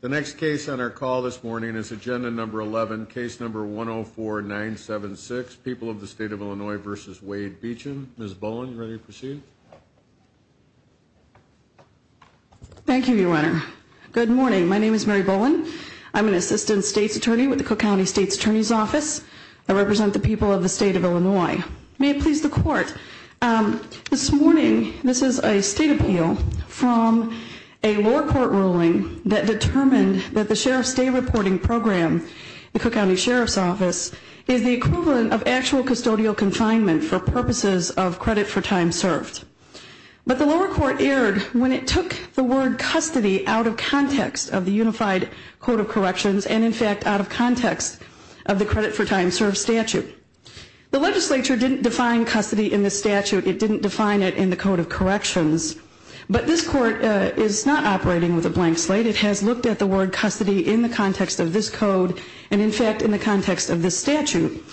The next case on our call this morning is agenda number 11, case number 104-976, People of the State of Illinois v. Wade Beachem. Ms. Bowen, are you ready to proceed? Thank you, Your Honor. Good morning. My name is Mary Bowen. I'm an Assistant State's Attorney with the Cook County State's Attorney's Office. I represent the people of the State of Illinois. May it please the Court, This morning, this is a State appeal from a lower court ruling that determined that the Sheriff's Day Reporting Program, the Cook County Sheriff's Office, is the equivalent of actual custodial confinement for purposes of credit for time served. But the lower court erred when it took the word custody out of context of the Unified Code of Corrections and, in fact, out of context of the credit for time served statute. The legislature didn't define custody in the statute. It didn't define it in the Code of Corrections. But this court is not operating with a blank slate. It has looked at the word custody in the context of this code and, in fact, in the context of this statute.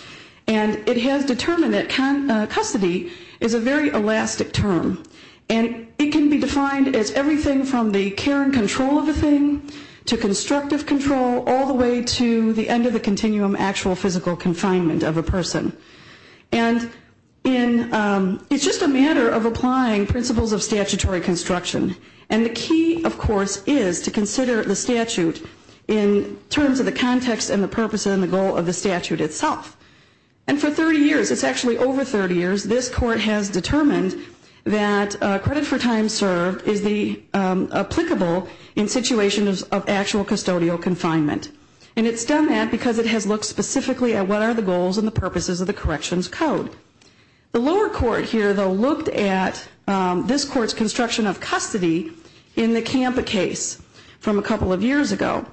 And it has determined that custody is a very elastic term. And it can be defined as everything from the care and control of the thing to constructive control all the way to the end of the continuum actual physical confinement of a person. And it's just a matter of applying principles of statutory construction. And the key, of course, is to consider the statute in terms of the context and the purpose and the goal of the statute itself. And for 30 years, it's actually over 30 years, this court has determined that credit for time served is applicable in situations of actual custodial confinement. And it's done that because it has looked specifically at what are the goals and the purposes of the corrections code. The lower court here, though, looked at this court's construction of custody in the Campa case from a couple of years ago.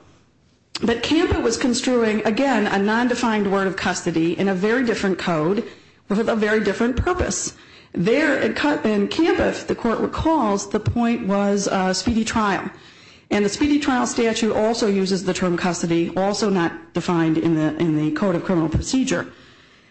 But Campa was construing, again, a nondefined word of custody in a very different code with a very different purpose. There in Campa, if the court recalls, the point was speedy trial. And the speedy trial statute also uses the term custody, also not defined in the Code of Criminal Procedure.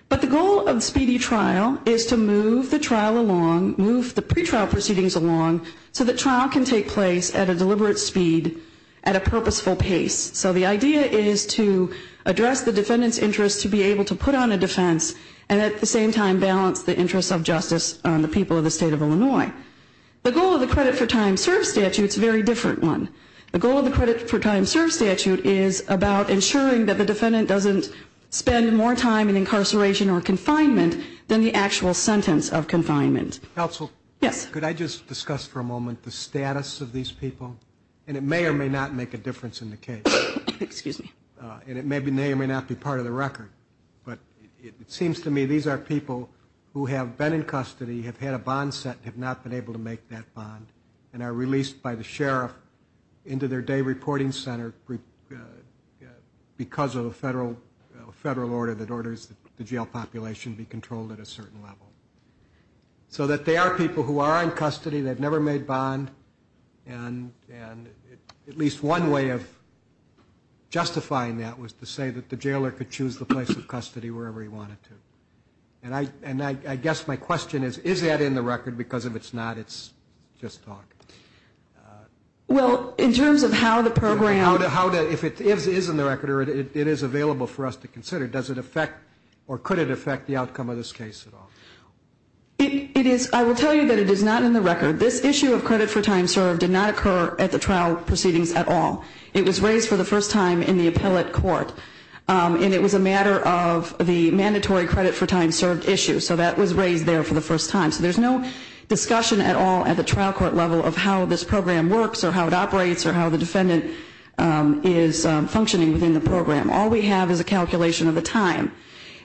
But the goal of speedy trial is to move the trial along, move the pretrial proceedings along, so that trial can take place at a deliberate speed at a purposeful pace. So the idea is to address the defendant's interest to be able to put on a defense and at the same time balance the interest of justice on the people of the state of Illinois. The goal of the credit for time served statute is a very different one. The goal of the credit for time served statute is about ensuring that the defendant doesn't spend more time in incarceration or confinement than the actual sentence of confinement. Counsel? Yes. Could I just discuss for a moment the status of these people? And it may or may not make a difference in the case. Excuse me. And it may or may not be part of the record. But it seems to me these are people who have been in custody, have had a bond set, have not been able to make that bond, and are released by the sheriff into their day reporting center because of a federal order that orders the jail population be controlled at a certain level. So that they are people who are in custody, they've never made bond, and at least one way of justifying that was to say that the jailer could choose the place of custody wherever he wanted to. And I guess my question is, is that in the record? Because if it's not, it's just talk. Well, in terms of how the program – If it is in the record or it is available for us to consider, does it affect or could it affect the outcome of this case at all? I will tell you that it is not in the record. This issue of credit for time served did not occur at the trial proceedings at all. It was raised for the first time in the appellate court. And it was a matter of the mandatory credit for time served issue. So that was raised there for the first time. So there's no discussion at all at the trial court level of how this program works or how it operates or how the defendant is functioning within the program. All we have is a calculation of the time.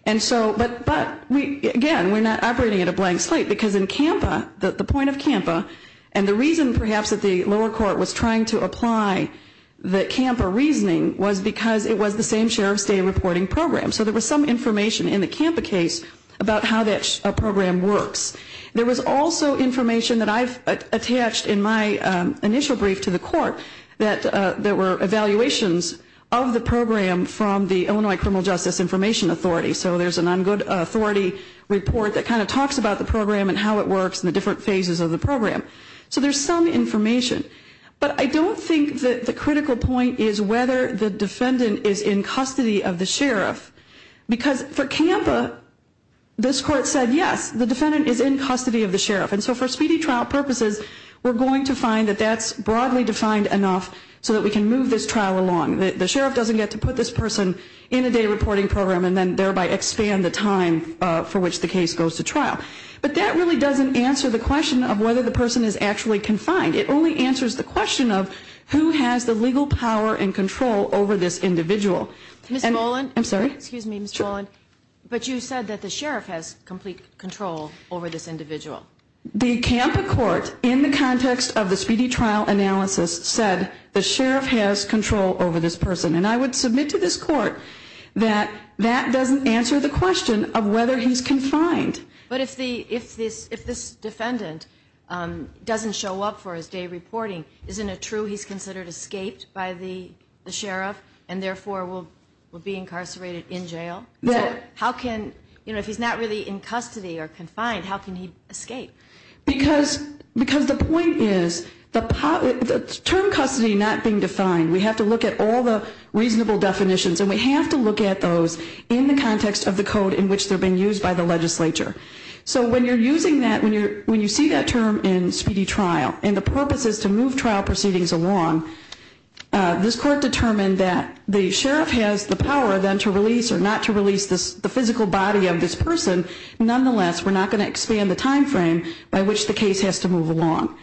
But, again, we're not operating at a blank slate because in CAMPA, the point of CAMPA, and the reason perhaps that the lower court was trying to apply the CAMPA reasoning was because it was the same sheriff's day reporting program. So there was some information in the CAMPA case about how that program works. There was also information that I've attached in my initial brief to the court that there were evaluations of the program from the Illinois Criminal Justice Information Authority. So there's an on-good authority report that kind of talks about the program and how it works and the different phases of the program. So there's some information. But I don't think that the critical point is whether the defendant is in custody of the sheriff because for CAMPA, this court said, yes, the defendant is in custody of the sheriff. And so for speedy trial purposes, we're going to find that that's broadly defined enough so that we can move this trial along. The sheriff doesn't get to put this person in a day reporting program and then thereby expand the time for which the case goes to trial. But that really doesn't answer the question of whether the person is actually confined. It only answers the question of who has the legal power and control over this individual. Ms. Molan. I'm sorry. Excuse me, Ms. Molan. Sure. But you said that the sheriff has complete control over this individual. The CAMPA court, in the context of the speedy trial analysis, said the sheriff has control over this person. And I would submit to this court that that doesn't answer the question of whether he's confined. But if this defendant doesn't show up for his day reporting, isn't it true he's considered escaped by the sheriff and therefore will be incarcerated in jail? Yes. If he's not really in custody or confined, how can he escape? Because the point is the term custody not being defined. We have to look at all the reasonable definitions, and we have to look at those in the context of the code in which they're being used by the legislature. So when you're using that, when you see that term in speedy trial, and the purpose is to move trial proceedings along, this court determined that the sheriff has the power then to release or not to release the physical body of this person. Nonetheless, we're not going to expand the time frame by which the case has to move along.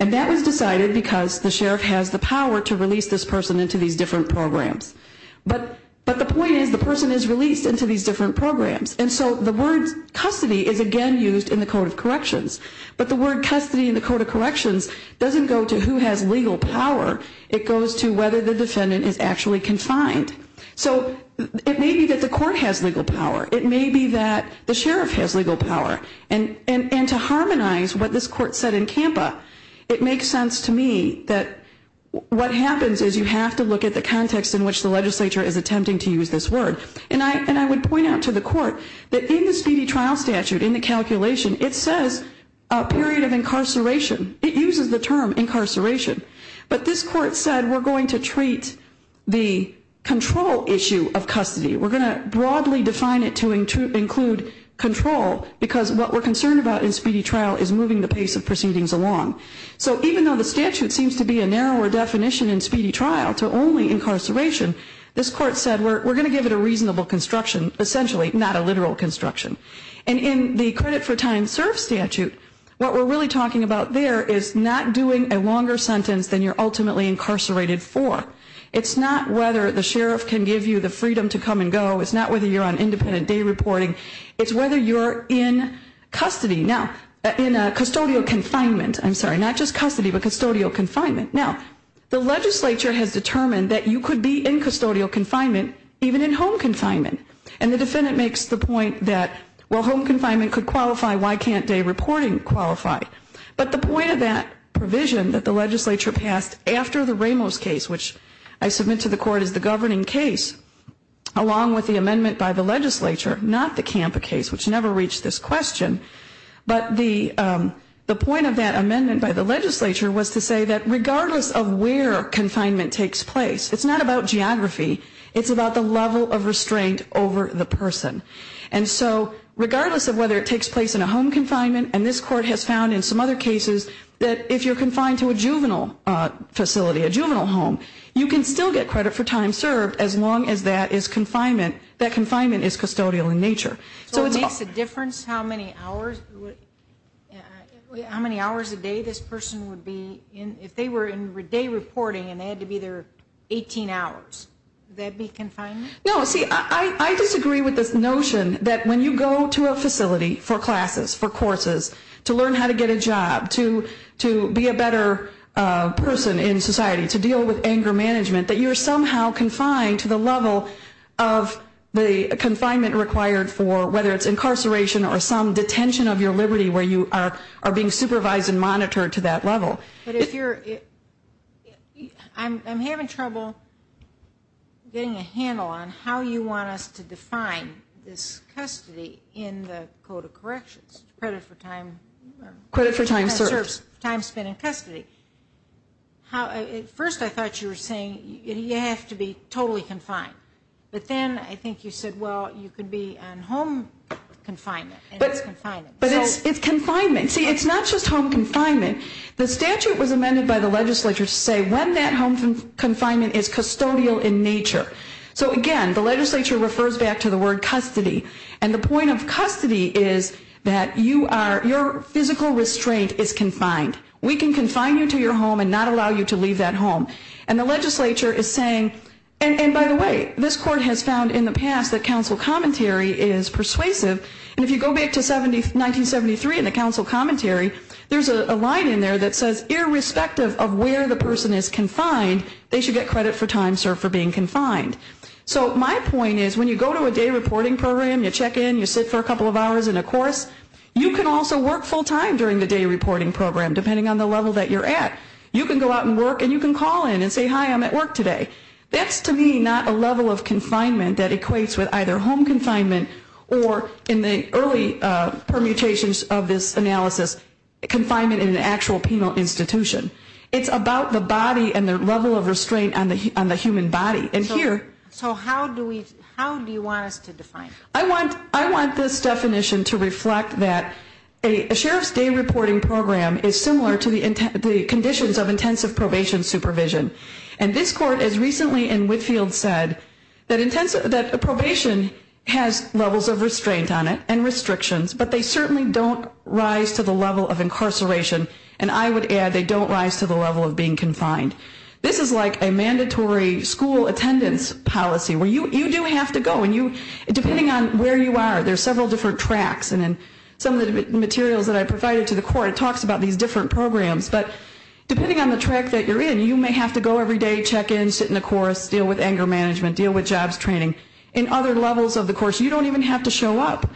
And that was decided because the sheriff has the power to release this person into these different programs. But the point is the person is released into these different programs. And so the word custody is again used in the Code of Corrections. But the word custody in the Code of Corrections doesn't go to who has legal power. It goes to whether the defendant is actually confined. So it may be that the court has legal power. It may be that the sheriff has legal power. And to harmonize what this court said in CAMPA, it makes sense to me that what happens is you have to look at the context in which the legislature is attempting to use this word. And I would point out to the court that in the speedy trial statute, in the calculation, it says a period of incarceration. It uses the term incarceration. But this court said we're going to treat the control issue of custody. We're going to broadly define it to include control because what we're concerned about in speedy trial is moving the pace of proceedings along. So even though the statute seems to be a narrower definition in speedy trial to only incarceration, this court said we're going to give it a reasonable construction, essentially, not a literal construction. And in the credit for time served statute, what we're really talking about there is not doing a longer sentence than you're ultimately incarcerated for. It's not whether the sheriff can give you the freedom to come and go. It's not whether you're on independent day reporting. It's whether you're in custody. Now, in custodial confinement, I'm sorry, not just custody, but custodial confinement. Now, the legislature has determined that you could be in custodial confinement, even in home confinement. And the defendant makes the point that, well, home confinement could qualify. Why can't day reporting qualify? But the point of that provision that the legislature passed after the Ramos case, which I submit to the court is the governing case, along with the amendment by the legislature, not the Campa case, which never reached this question, but the point of that amendment by the legislature was to say that regardless of where confinement takes place, it's not about geography, it's about the level of restraint over the person. And so regardless of whether it takes place in a home confinement, and this court has found in some other cases that if you're confined to a juvenile facility, a juvenile home, you can still get credit for time served as long as that is confinement, that confinement is custodial in nature. So it makes a difference how many hours a day this person would be in, if they were in day reporting and they had to be there 18 hours. Would that be confinement? No. See, I disagree with this notion that when you go to a facility for classes, for courses, to learn how to get a job, to be a better person in society, to deal with anger management, that you're somehow confined to the level of the confinement required for whether it's incarceration or some detention of your liberty where you are being supervised and monitored to that level. But if you're – I'm having trouble getting a handle on how you want us to define this custody in the Code of Corrections, credit for time – Credit for time served. Time spent in custody. First I thought you were saying you have to be totally confined. But then I think you said, well, you could be on home confinement and it's confinement. But it's confinement. See, it's not just home confinement. The statute was amended by the legislature to say when that home confinement is custodial in nature. So again, the legislature refers back to the word custody. And the point of custody is that you are – your physical restraint is confined. We can confine you to your home and not allow you to leave that home. And the legislature is saying – and by the way, this court has found in the past that counsel commentary is persuasive. And if you go back to 1973 in the counsel commentary, there's a line in there that says irrespective of where the person is confined, they should get credit for time served for being confined. So my point is when you go to a day reporting program, you check in, you sit for a couple of hours in a course, you can also work full time during the day reporting program depending on the level that you're at. You can go out and work and you can call in and say, hi, I'm at work today. That's to me not a level of confinement that equates with either home confinement or in the early permutations of this analysis, confinement in an actual penal institution. It's about the body and the level of restraint on the human body. So how do you want us to define it? I want this definition to reflect that a sheriff's day reporting program is similar to the conditions of intensive probation supervision. And this court has recently in Whitfield said that probation has levels of restraint on it and restrictions, but they certainly don't rise to the level of incarceration. And I would add they don't rise to the level of being confined. This is like a mandatory school attendance policy where you do have to go. And depending on where you are, there's several different tracks. And in some of the materials that I provided to the court, it talks about these different programs. But depending on the track that you're in, you may have to go every day, check in, sit in a course, deal with anger management, deal with jobs training. In other levels of the course, you don't even have to show up.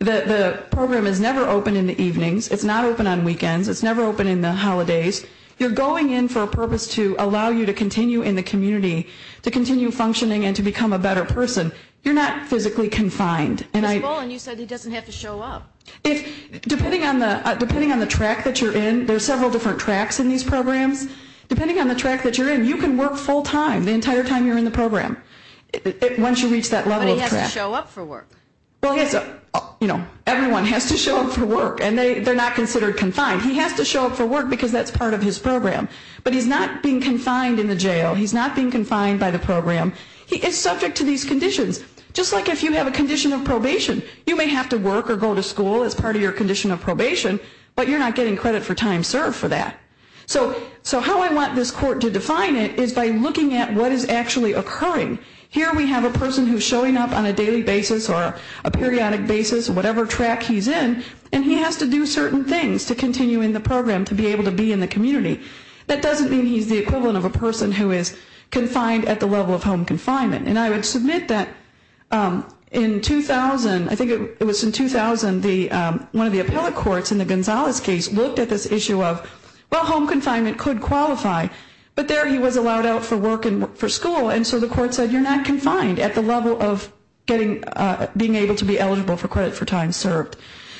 The program is never open in the evenings. It's not open on weekends. It's never open in the holidays. You're going in for a purpose to allow you to continue in the community, to continue functioning and to become a better person. You're not physically confined. Ms. Boland, you said he doesn't have to show up. Depending on the track that you're in, there's several different tracks in these programs. Depending on the track that you're in, you can work full time the entire time you're in the program. Once you reach that level of track. But he has to show up for work. Everyone has to show up for work. And they're not considered confined. He has to show up for work because that's part of his program. But he's not being confined in the jail. He's not being confined by the program. He is subject to these conditions. Just like if you have a condition of probation. You may have to work or go to school as part of your condition of probation. But you're not getting credit for time served for that. So how I want this court to define it is by looking at what is actually occurring. Here we have a person who's showing up on a daily basis or a periodic basis, whatever track he's in. And he has to do certain things to continue in the program to be able to be in the community. That doesn't mean he's the equivalent of a person who is confined at the level of home confinement. And I would submit that in 2000, I think it was in 2000, one of the appellate courts in the Gonzalez case looked at this issue of, well, home confinement could qualify. But there he was allowed out for work and for school. And so the court said you're not confined at the level of being able to be eligible for credit for time served.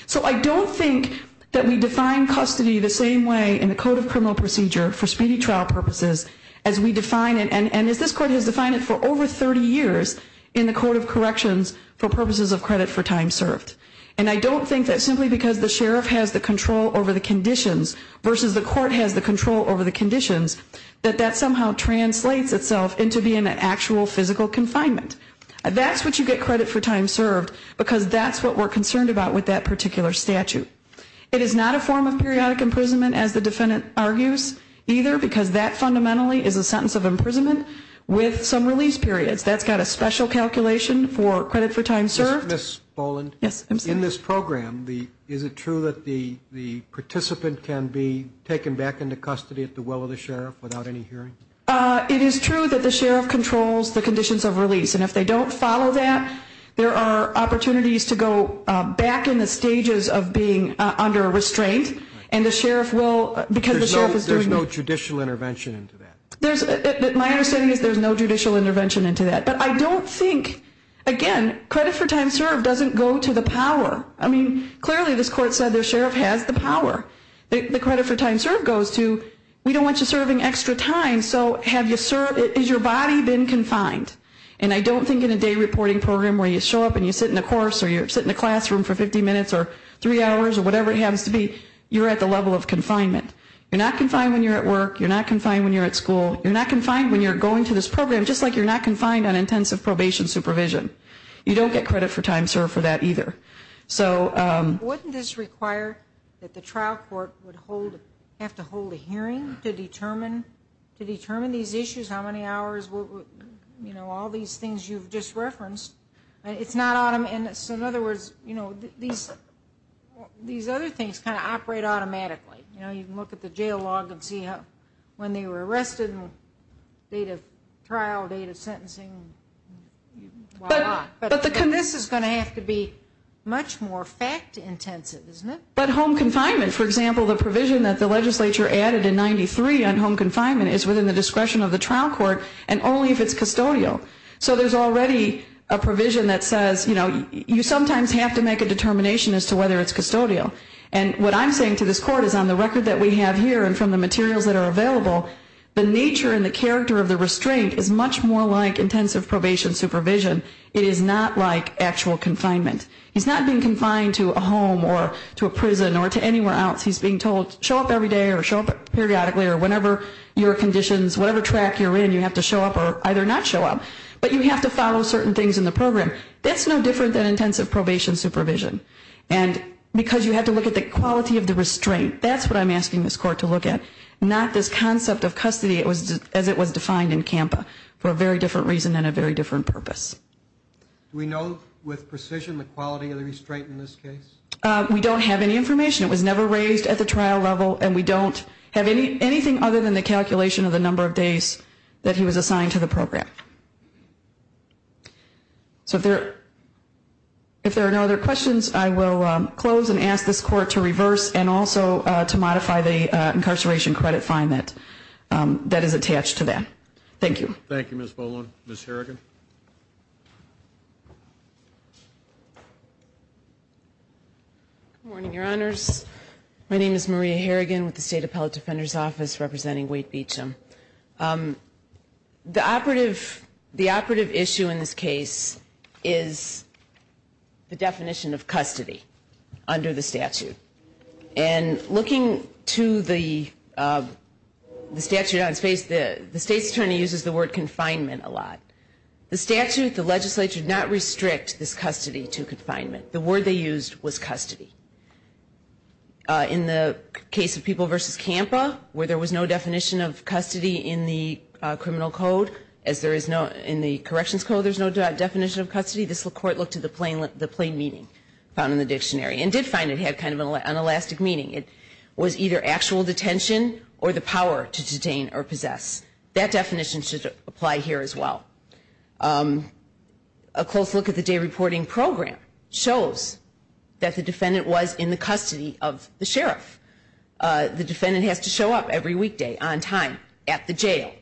So I don't think that we define custody the same way in the Code of Criminal Procedure for speedy trial purposes as we define it and as this court has defined it for over 30 years in the Code of Corrections for purposes of credit for time served. And I don't think that simply because the sheriff has the control over the conditions versus the court has the control over the conditions, that that somehow translates itself into being an actual physical confinement. That's what you get credit for time served because that's what we're concerned about with that particular statute. It is not a form of periodic imprisonment, as the defendant argues, either, because that fundamentally is a sentence of imprisonment with some release periods. That's got a special calculation for credit for time served. Ms. Boland. Yes, I'm sorry. In this program, is it true that the participant can be taken back into custody at the will of the sheriff without any hearing? It is true that the sheriff controls the conditions of release. And if they don't follow that, there are opportunities to go back in the stages of being under restraint and the sheriff will, because the sheriff is doing it. There's no judicial intervention into that. My understanding is there's no judicial intervention into that. But I don't think, again, credit for time served doesn't go to the power. I mean, clearly this court said the sheriff has the power. The credit for time served goes to we don't want you serving extra time, so is your body been confined? And I don't think in a day reporting program where you show up and you sit in a course or you sit in a classroom for 50 minutes or three hours or whatever it happens to be, you're at the level of confinement. You're not confined when you're at work. You're not confined when you're at school. You're not confined when you're going to this program, just like you're not confined on intensive probation supervision. You don't get credit for time served for that either. Wouldn't this require that the trial court would have to hold a hearing to determine these issues, how many hours, you know, all these things you've just referenced. In other words, you know, these other things kind of operate automatically. You know, you can look at the jail log and see when they were arrested, date of trial, date of sentencing, why not. But this is going to have to be much more fact intensive, isn't it? But home confinement, for example, the provision that the legislature added in 93 on home confinement is within the discretion of the trial court and only if it's custodial. So there's already a provision that says, you know, you sometimes have to make a determination as to whether it's custodial. And what I'm saying to this court is on the record that we have here and from the materials that are available, the nature and the character of the restraint is much more like intensive probation supervision. It is not like actual confinement. He's not being confined to a home or to a prison or to anywhere else. He's being told show up every day or show up periodically or whenever your conditions, whatever track you're in, you have to show up or either not show up. But you have to follow certain things in the program. That's no different than intensive probation supervision. And because you have to look at the quality of the restraint, that's what I'm asking this court to look at, not this concept of custody as it was defined in CAMPA for a very different reason and a very different purpose. Do we know with precision the quality of the restraint in this case? We don't have any information. It was never raised at the trial level, and we don't have anything other than the calculation of the number of days that he was assigned to the program. So if there are no other questions, I will close and ask this court to reverse and also to modify the incarceration credit fine that is attached to that. Thank you. Thank you, Ms. Boland. Ms. Harrigan. Good morning, Your Honors. My name is Maria Harrigan with the State Appellate Defender's Office representing Wade Beecham. The operative issue in this case is the definition of custody under the statute. And looking to the statute on its face, the State's attorney uses the word confinement a lot. The statute, the legislature, did not restrict this custody to confinement. The word they used was custody. In the case of People v. CAMPA, where there was no definition of custody in the criminal code, as there is in the corrections code there is no definition of custody, this court looked at the plain meaning found in the dictionary and did find it had kind of an unelastic meaning. It was either actual detention or the power to detain or possess. That definition should apply here as well. A close look at the day reporting program shows that the defendant was in the custody of the sheriff. The defendant has to show up every weekday, on time, at the jail.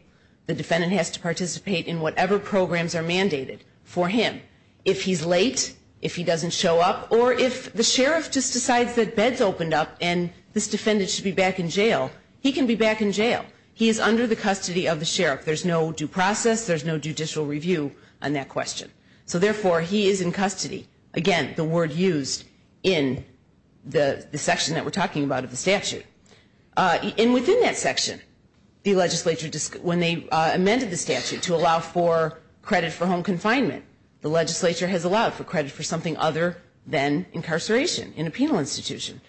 The defendant has to participate in whatever programs are mandated for him. If he's late, if he doesn't show up, or if the sheriff just decides that bed's opened up and this defendant should be back in jail, he can be back in jail. He is under the custody of the sheriff. There's no due process, there's no judicial review on that question. So therefore, he is in custody. Again, the word used in the section that we're talking about of the statute. And within that section, the legislature, when they amended the statute to allow for credit for home confinement, the legislature has allowed for credit for something other than incarceration in a penal institution.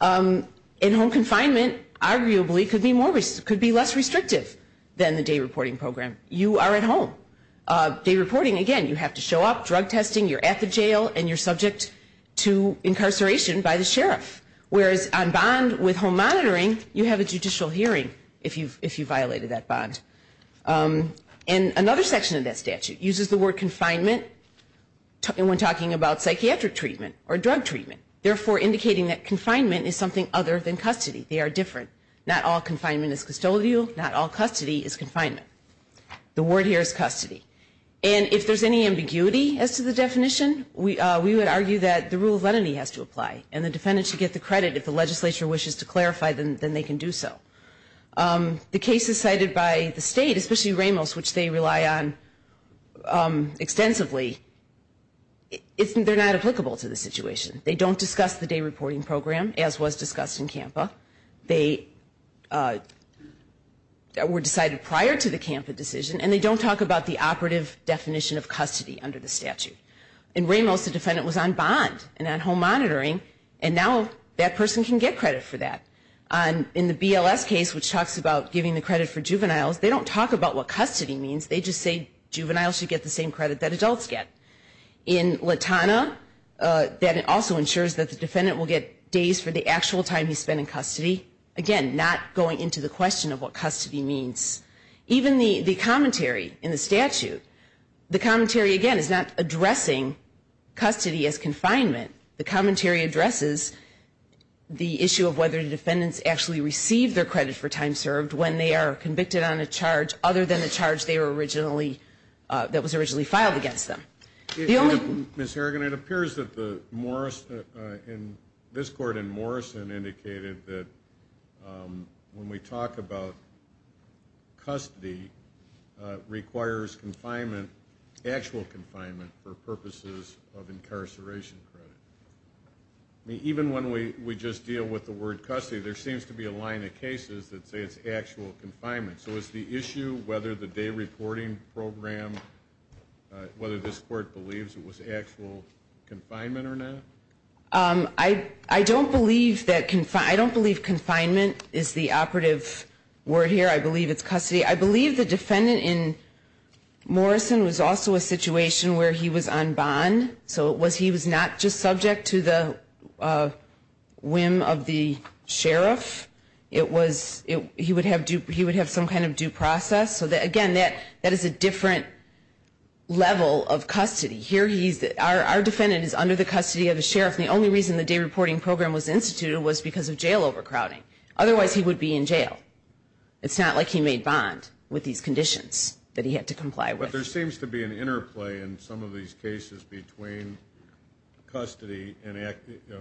And home confinement arguably could be less restrictive than the day reporting program. You are at home. Day reporting, again, you have to show up, drug testing, you're at the jail, and you're subject to incarceration by the sheriff. Whereas on bond with home monitoring, you have a judicial hearing if you violated that bond. And another section of that statute uses the word confinement when talking about psychiatric treatment or drug treatment. Therefore, indicating that confinement is something other than custody. They are different. Not all confinement is custodial. Not all custody is confinement. The word here is custody. And if there's any ambiguity as to the definition, we would argue that the rule of lenity has to apply and the defendant should get the credit if the legislature wishes to clarify, then they can do so. The cases cited by the state, especially Ramos, which they rely on extensively, they're not applicable to the situation. They don't discuss the day reporting program, as was discussed in CAMPA. They were decided prior to the CAMPA decision, and they don't talk about the operative definition of custody under the statute. In Ramos, the defendant was on bond and on home monitoring, and now that person can get credit for that. In the BLS case, which talks about giving the credit for juveniles, they don't talk about what custody means. They just say juveniles should get the same credit that adults get. In Latana, that also ensures that the defendant will get days for the actual time he spent in custody. Again, not going into the question of what custody means. Even the commentary in the statute, the commentary, again, is not addressing custody as confinement. The commentary addresses the issue of whether the defendants actually receive their credit for time served when they are convicted on a charge other than the charge that was originally filed against them. Ms. Harrigan, it appears that this court in Morrison indicated that when we talk about custody, it requires actual confinement for purposes of incarceration credit. Even when we just deal with the word custody, there seems to be a line of cases that say it's actual confinement. So is the issue whether the day reporting program, whether this court believes it was actual confinement or not? I don't believe confinement is the operative word here. I believe it's custody. I believe the defendant in Morrison was also a situation where he was on bond. So he was not just subject to the whim of the sheriff. He would have some kind of due process. Again, that is a different level of custody. Our defendant is under the custody of the sheriff. The only reason the day reporting program was instituted was because of jail overcrowding. Otherwise, he would be in jail. It's not like he made bond with these conditions that he had to comply with. But there seems to be an interplay in some of these cases between custody and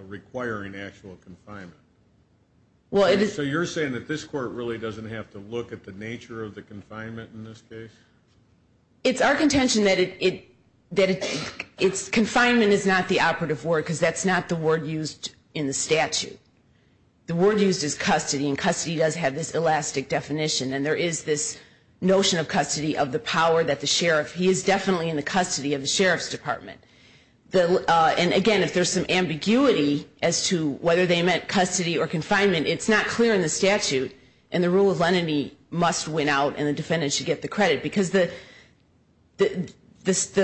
requiring actual confinement. So you're saying that this court really doesn't have to look at the nature of the confinement in this case? It's our contention that confinement is not the operative word because that's not the word used in the statute. The word used is custody, and custody does have this elastic definition. And there is this notion of custody of the power that the sheriff, he is definitely in the custody of the sheriff's department. And, again, if there's some ambiguity as to whether they meant custody or confinement, it's not clear in the statute. And the rule of lenity must win out, and the defendant should get the credit. Because the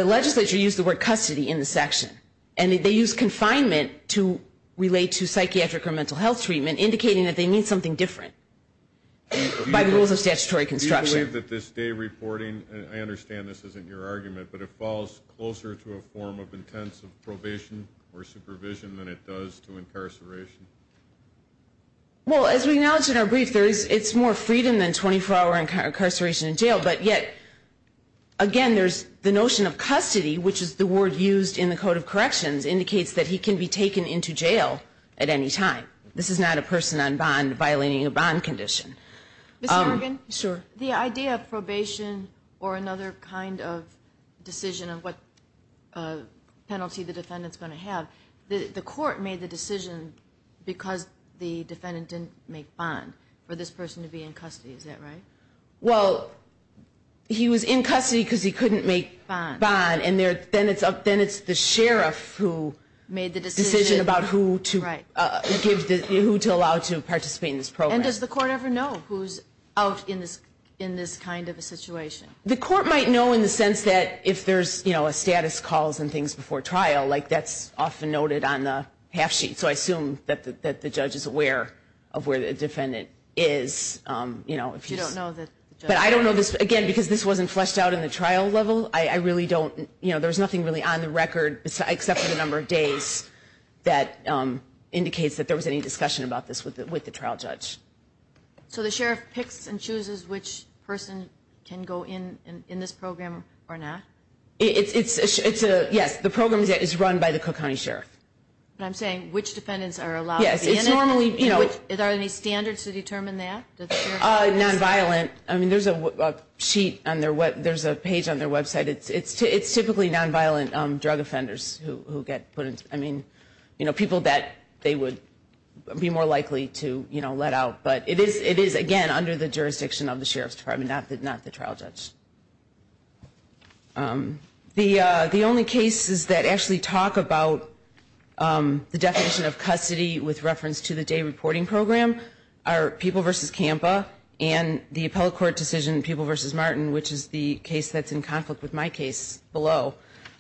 legislature used the word custody in the section. And they used confinement to relate to psychiatric or mental health treatment, indicating that they need something different by the rules of statutory construction. Do you believe that this day reporting, and I understand this isn't your argument, but it falls closer to a form of intensive probation or supervision than it does to incarceration? Well, as we acknowledged in our brief, it's more freedom than 24-hour incarceration in jail. But yet, again, there's the notion of custody, which is the word used in the Code of Corrections, indicates that he can be taken into jail at any time. This is not a person on bond violating a bond condition. Mr. Morgan? Sure. The idea of probation or another kind of decision of what penalty the defendant's going to have, the court made the decision because the defendant didn't make bond for this person to be in custody. Is that right? Well, he was in custody because he couldn't make bond. Then it's the sheriff who made the decision about who to allow to participate in this program. And does the court ever know who's out in this kind of a situation? The court might know in the sense that if there's a status calls and things before trial, like that's often noted on the half sheet. So I assume that the judge is aware of where the defendant is. But you don't know that the judge knows? But I don't know this, again, because this wasn't fleshed out in the trial level. I really don't, you know, there's nothing really on the record except for the number of days that indicates that there was any discussion about this with the trial judge. So the sheriff picks and chooses which person can go in this program or not? It's a, yes, the program is run by the Cook County Sheriff. But I'm saying which defendants are allowed to be in it? Yes, it's normally, you know. Are there any standards to determine that? Nonviolent. I mean, there's a sheet on their web, there's a page on their website. It's typically nonviolent drug offenders who get put in, I mean, you know, people that they would be more likely to, you know, let out. But it is, again, under the jurisdiction of the Sheriff's Department, not the trial judge. The only cases that actually talk about the definition of custody with reference to the day reporting program are People v. Kampa and the appellate court decision, People v. Martin, which is the case that's in conflict with my case below.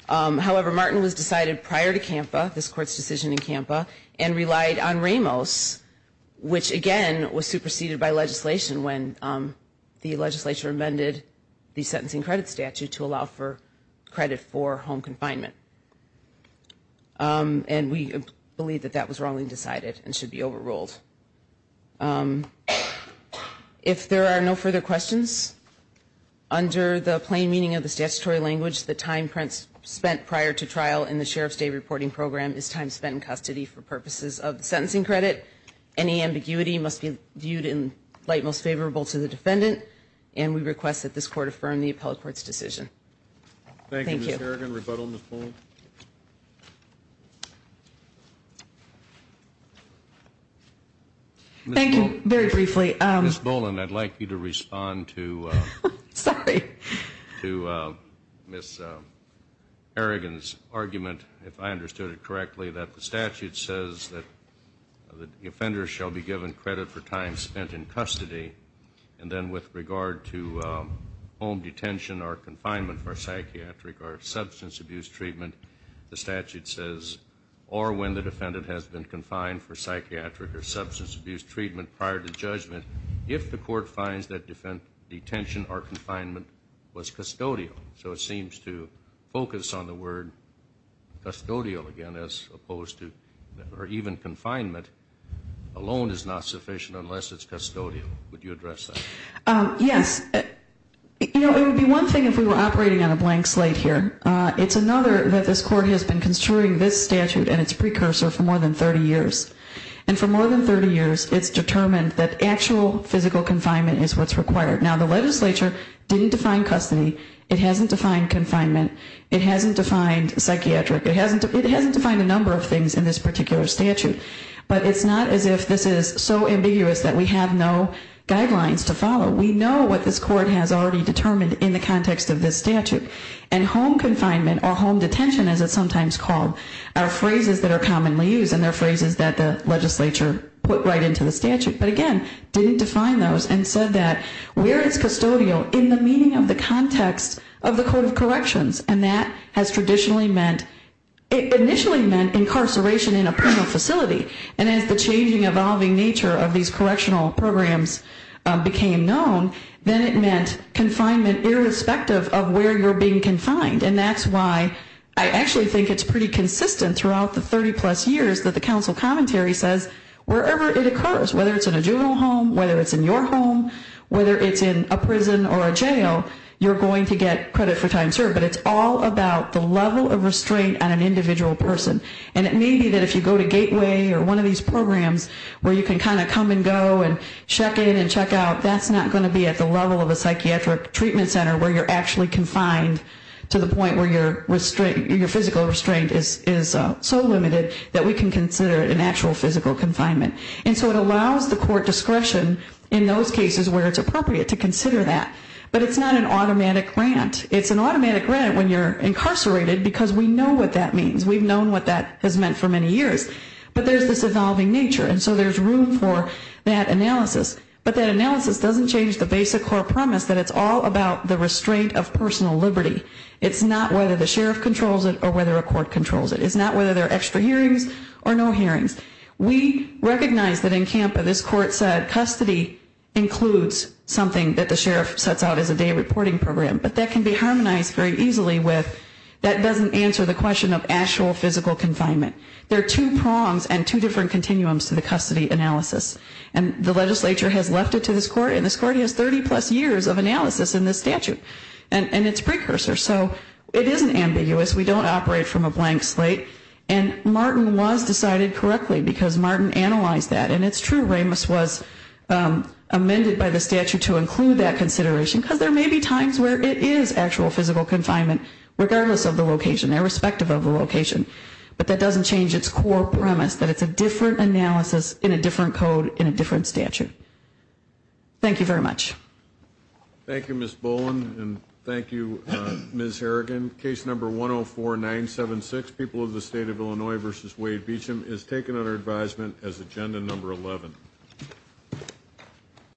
However, Martin was decided prior to Kampa, this court's decision in Kampa, and relied on Ramos, which, again, was superseded by legislation when the legislature amended the sentencing credit statute to allow for credit for home confinement. And we believe that that was wrongly decided and should be overruled. If there are no further questions, under the plain meaning of the statutory language, the time spent prior to trial in the Sheriff's day reporting program is time spent in custody for purposes of the sentencing credit. Any ambiguity must be viewed in light most favorable to the defendant, and we request that this court affirm the appellate court's decision. Thank you. Thank you, Ms. Harrigan. Rebuttal, Ms. Boland. Thank you. Very briefly. Ms. Boland, I'd like you to respond to Ms. Harrigan's argument, if I understood it correctly, that the statute says that the offender shall be given credit for time spent in custody, and then with regard to home detention or confinement for psychiatric or substance abuse treatment, the statute says, or when the defendant has been confined for psychiatric or substance abuse treatment prior to judgment, if the court finds that detention or confinement was custodial. So it seems to focus on the word custodial, again, as opposed to even confinement alone is not sufficient unless it's custodial. Would you address that? Yes. You know, it would be one thing if we were operating on a blank slate here. It's another that this court has been construing this statute and its precursor for more than 30 years. And for more than 30 years, it's determined that actual physical confinement is what's required. Now, the legislature didn't define custody. It hasn't defined confinement. It hasn't defined psychiatric. It hasn't defined a number of things in this particular statute. But it's not as if this is so ambiguous that we have no guidelines to follow. We know what this court has already determined in the context of this statute. And home confinement or home detention, as it's sometimes called, are phrases that are commonly used, and they're phrases that the legislature put right into the statute. But, again, didn't define those and said that where it's custodial in the meaning of the context of the Code of Corrections, and that has traditionally meant, initially meant incarceration in a penal facility. And as the changing, evolving nature of these correctional programs became known, then it meant confinement irrespective of where you're being confined. And that's why I actually think it's pretty consistent throughout the 30-plus years that the council commentary says, wherever it occurs, whether it's in a juvenile home, whether it's in your home, whether it's in a prison or a jail, you're going to get credit for time served. But it's all about the level of restraint on an individual person. And it may be that if you go to Gateway or one of these programs where you can kind of come and go and check in and check out, that's not going to be at the level of a psychiatric treatment center where you're actually confined to the point where your physical restraint is so limited that we can consider it an actual physical confinement. And so it allows the court discretion in those cases where it's appropriate to consider that. But it's not an automatic grant. It's an automatic grant when you're incarcerated because we know what that means. We've known what that has meant for many years. But there's this evolving nature, and so there's room for that analysis. But that analysis doesn't change the basic core premise that it's all about the restraint of personal liberty. It's not whether the sheriff controls it or whether a court controls it. It's not whether there are extra hearings or no hearings. We recognize that in CAMPA this court said custody includes something that the sheriff sets out as a day reporting program. But that can be harmonized very easily with that doesn't answer the question of actual physical confinement. There are two prongs and two different continuums to the custody analysis. And the legislature has left it to this court, and this court has 30-plus years of analysis in this statute. And it's precursor. So it isn't ambiguous. We don't operate from a blank slate. And Martin was decided correctly because Martin analyzed that, and it's true. Ramis was amended by the statute to include that consideration because there may be times where it is actual physical confinement, regardless of the location, irrespective of the location. But that doesn't change its core premise, that it's a different analysis in a different code in a different statute. Thank you very much. Thank you, Ms. Boland, and thank you, Ms. Harrigan. Case number 104976, people of the state of Illinois v. Wade Beecham, is taken under advisement as agenda number 11.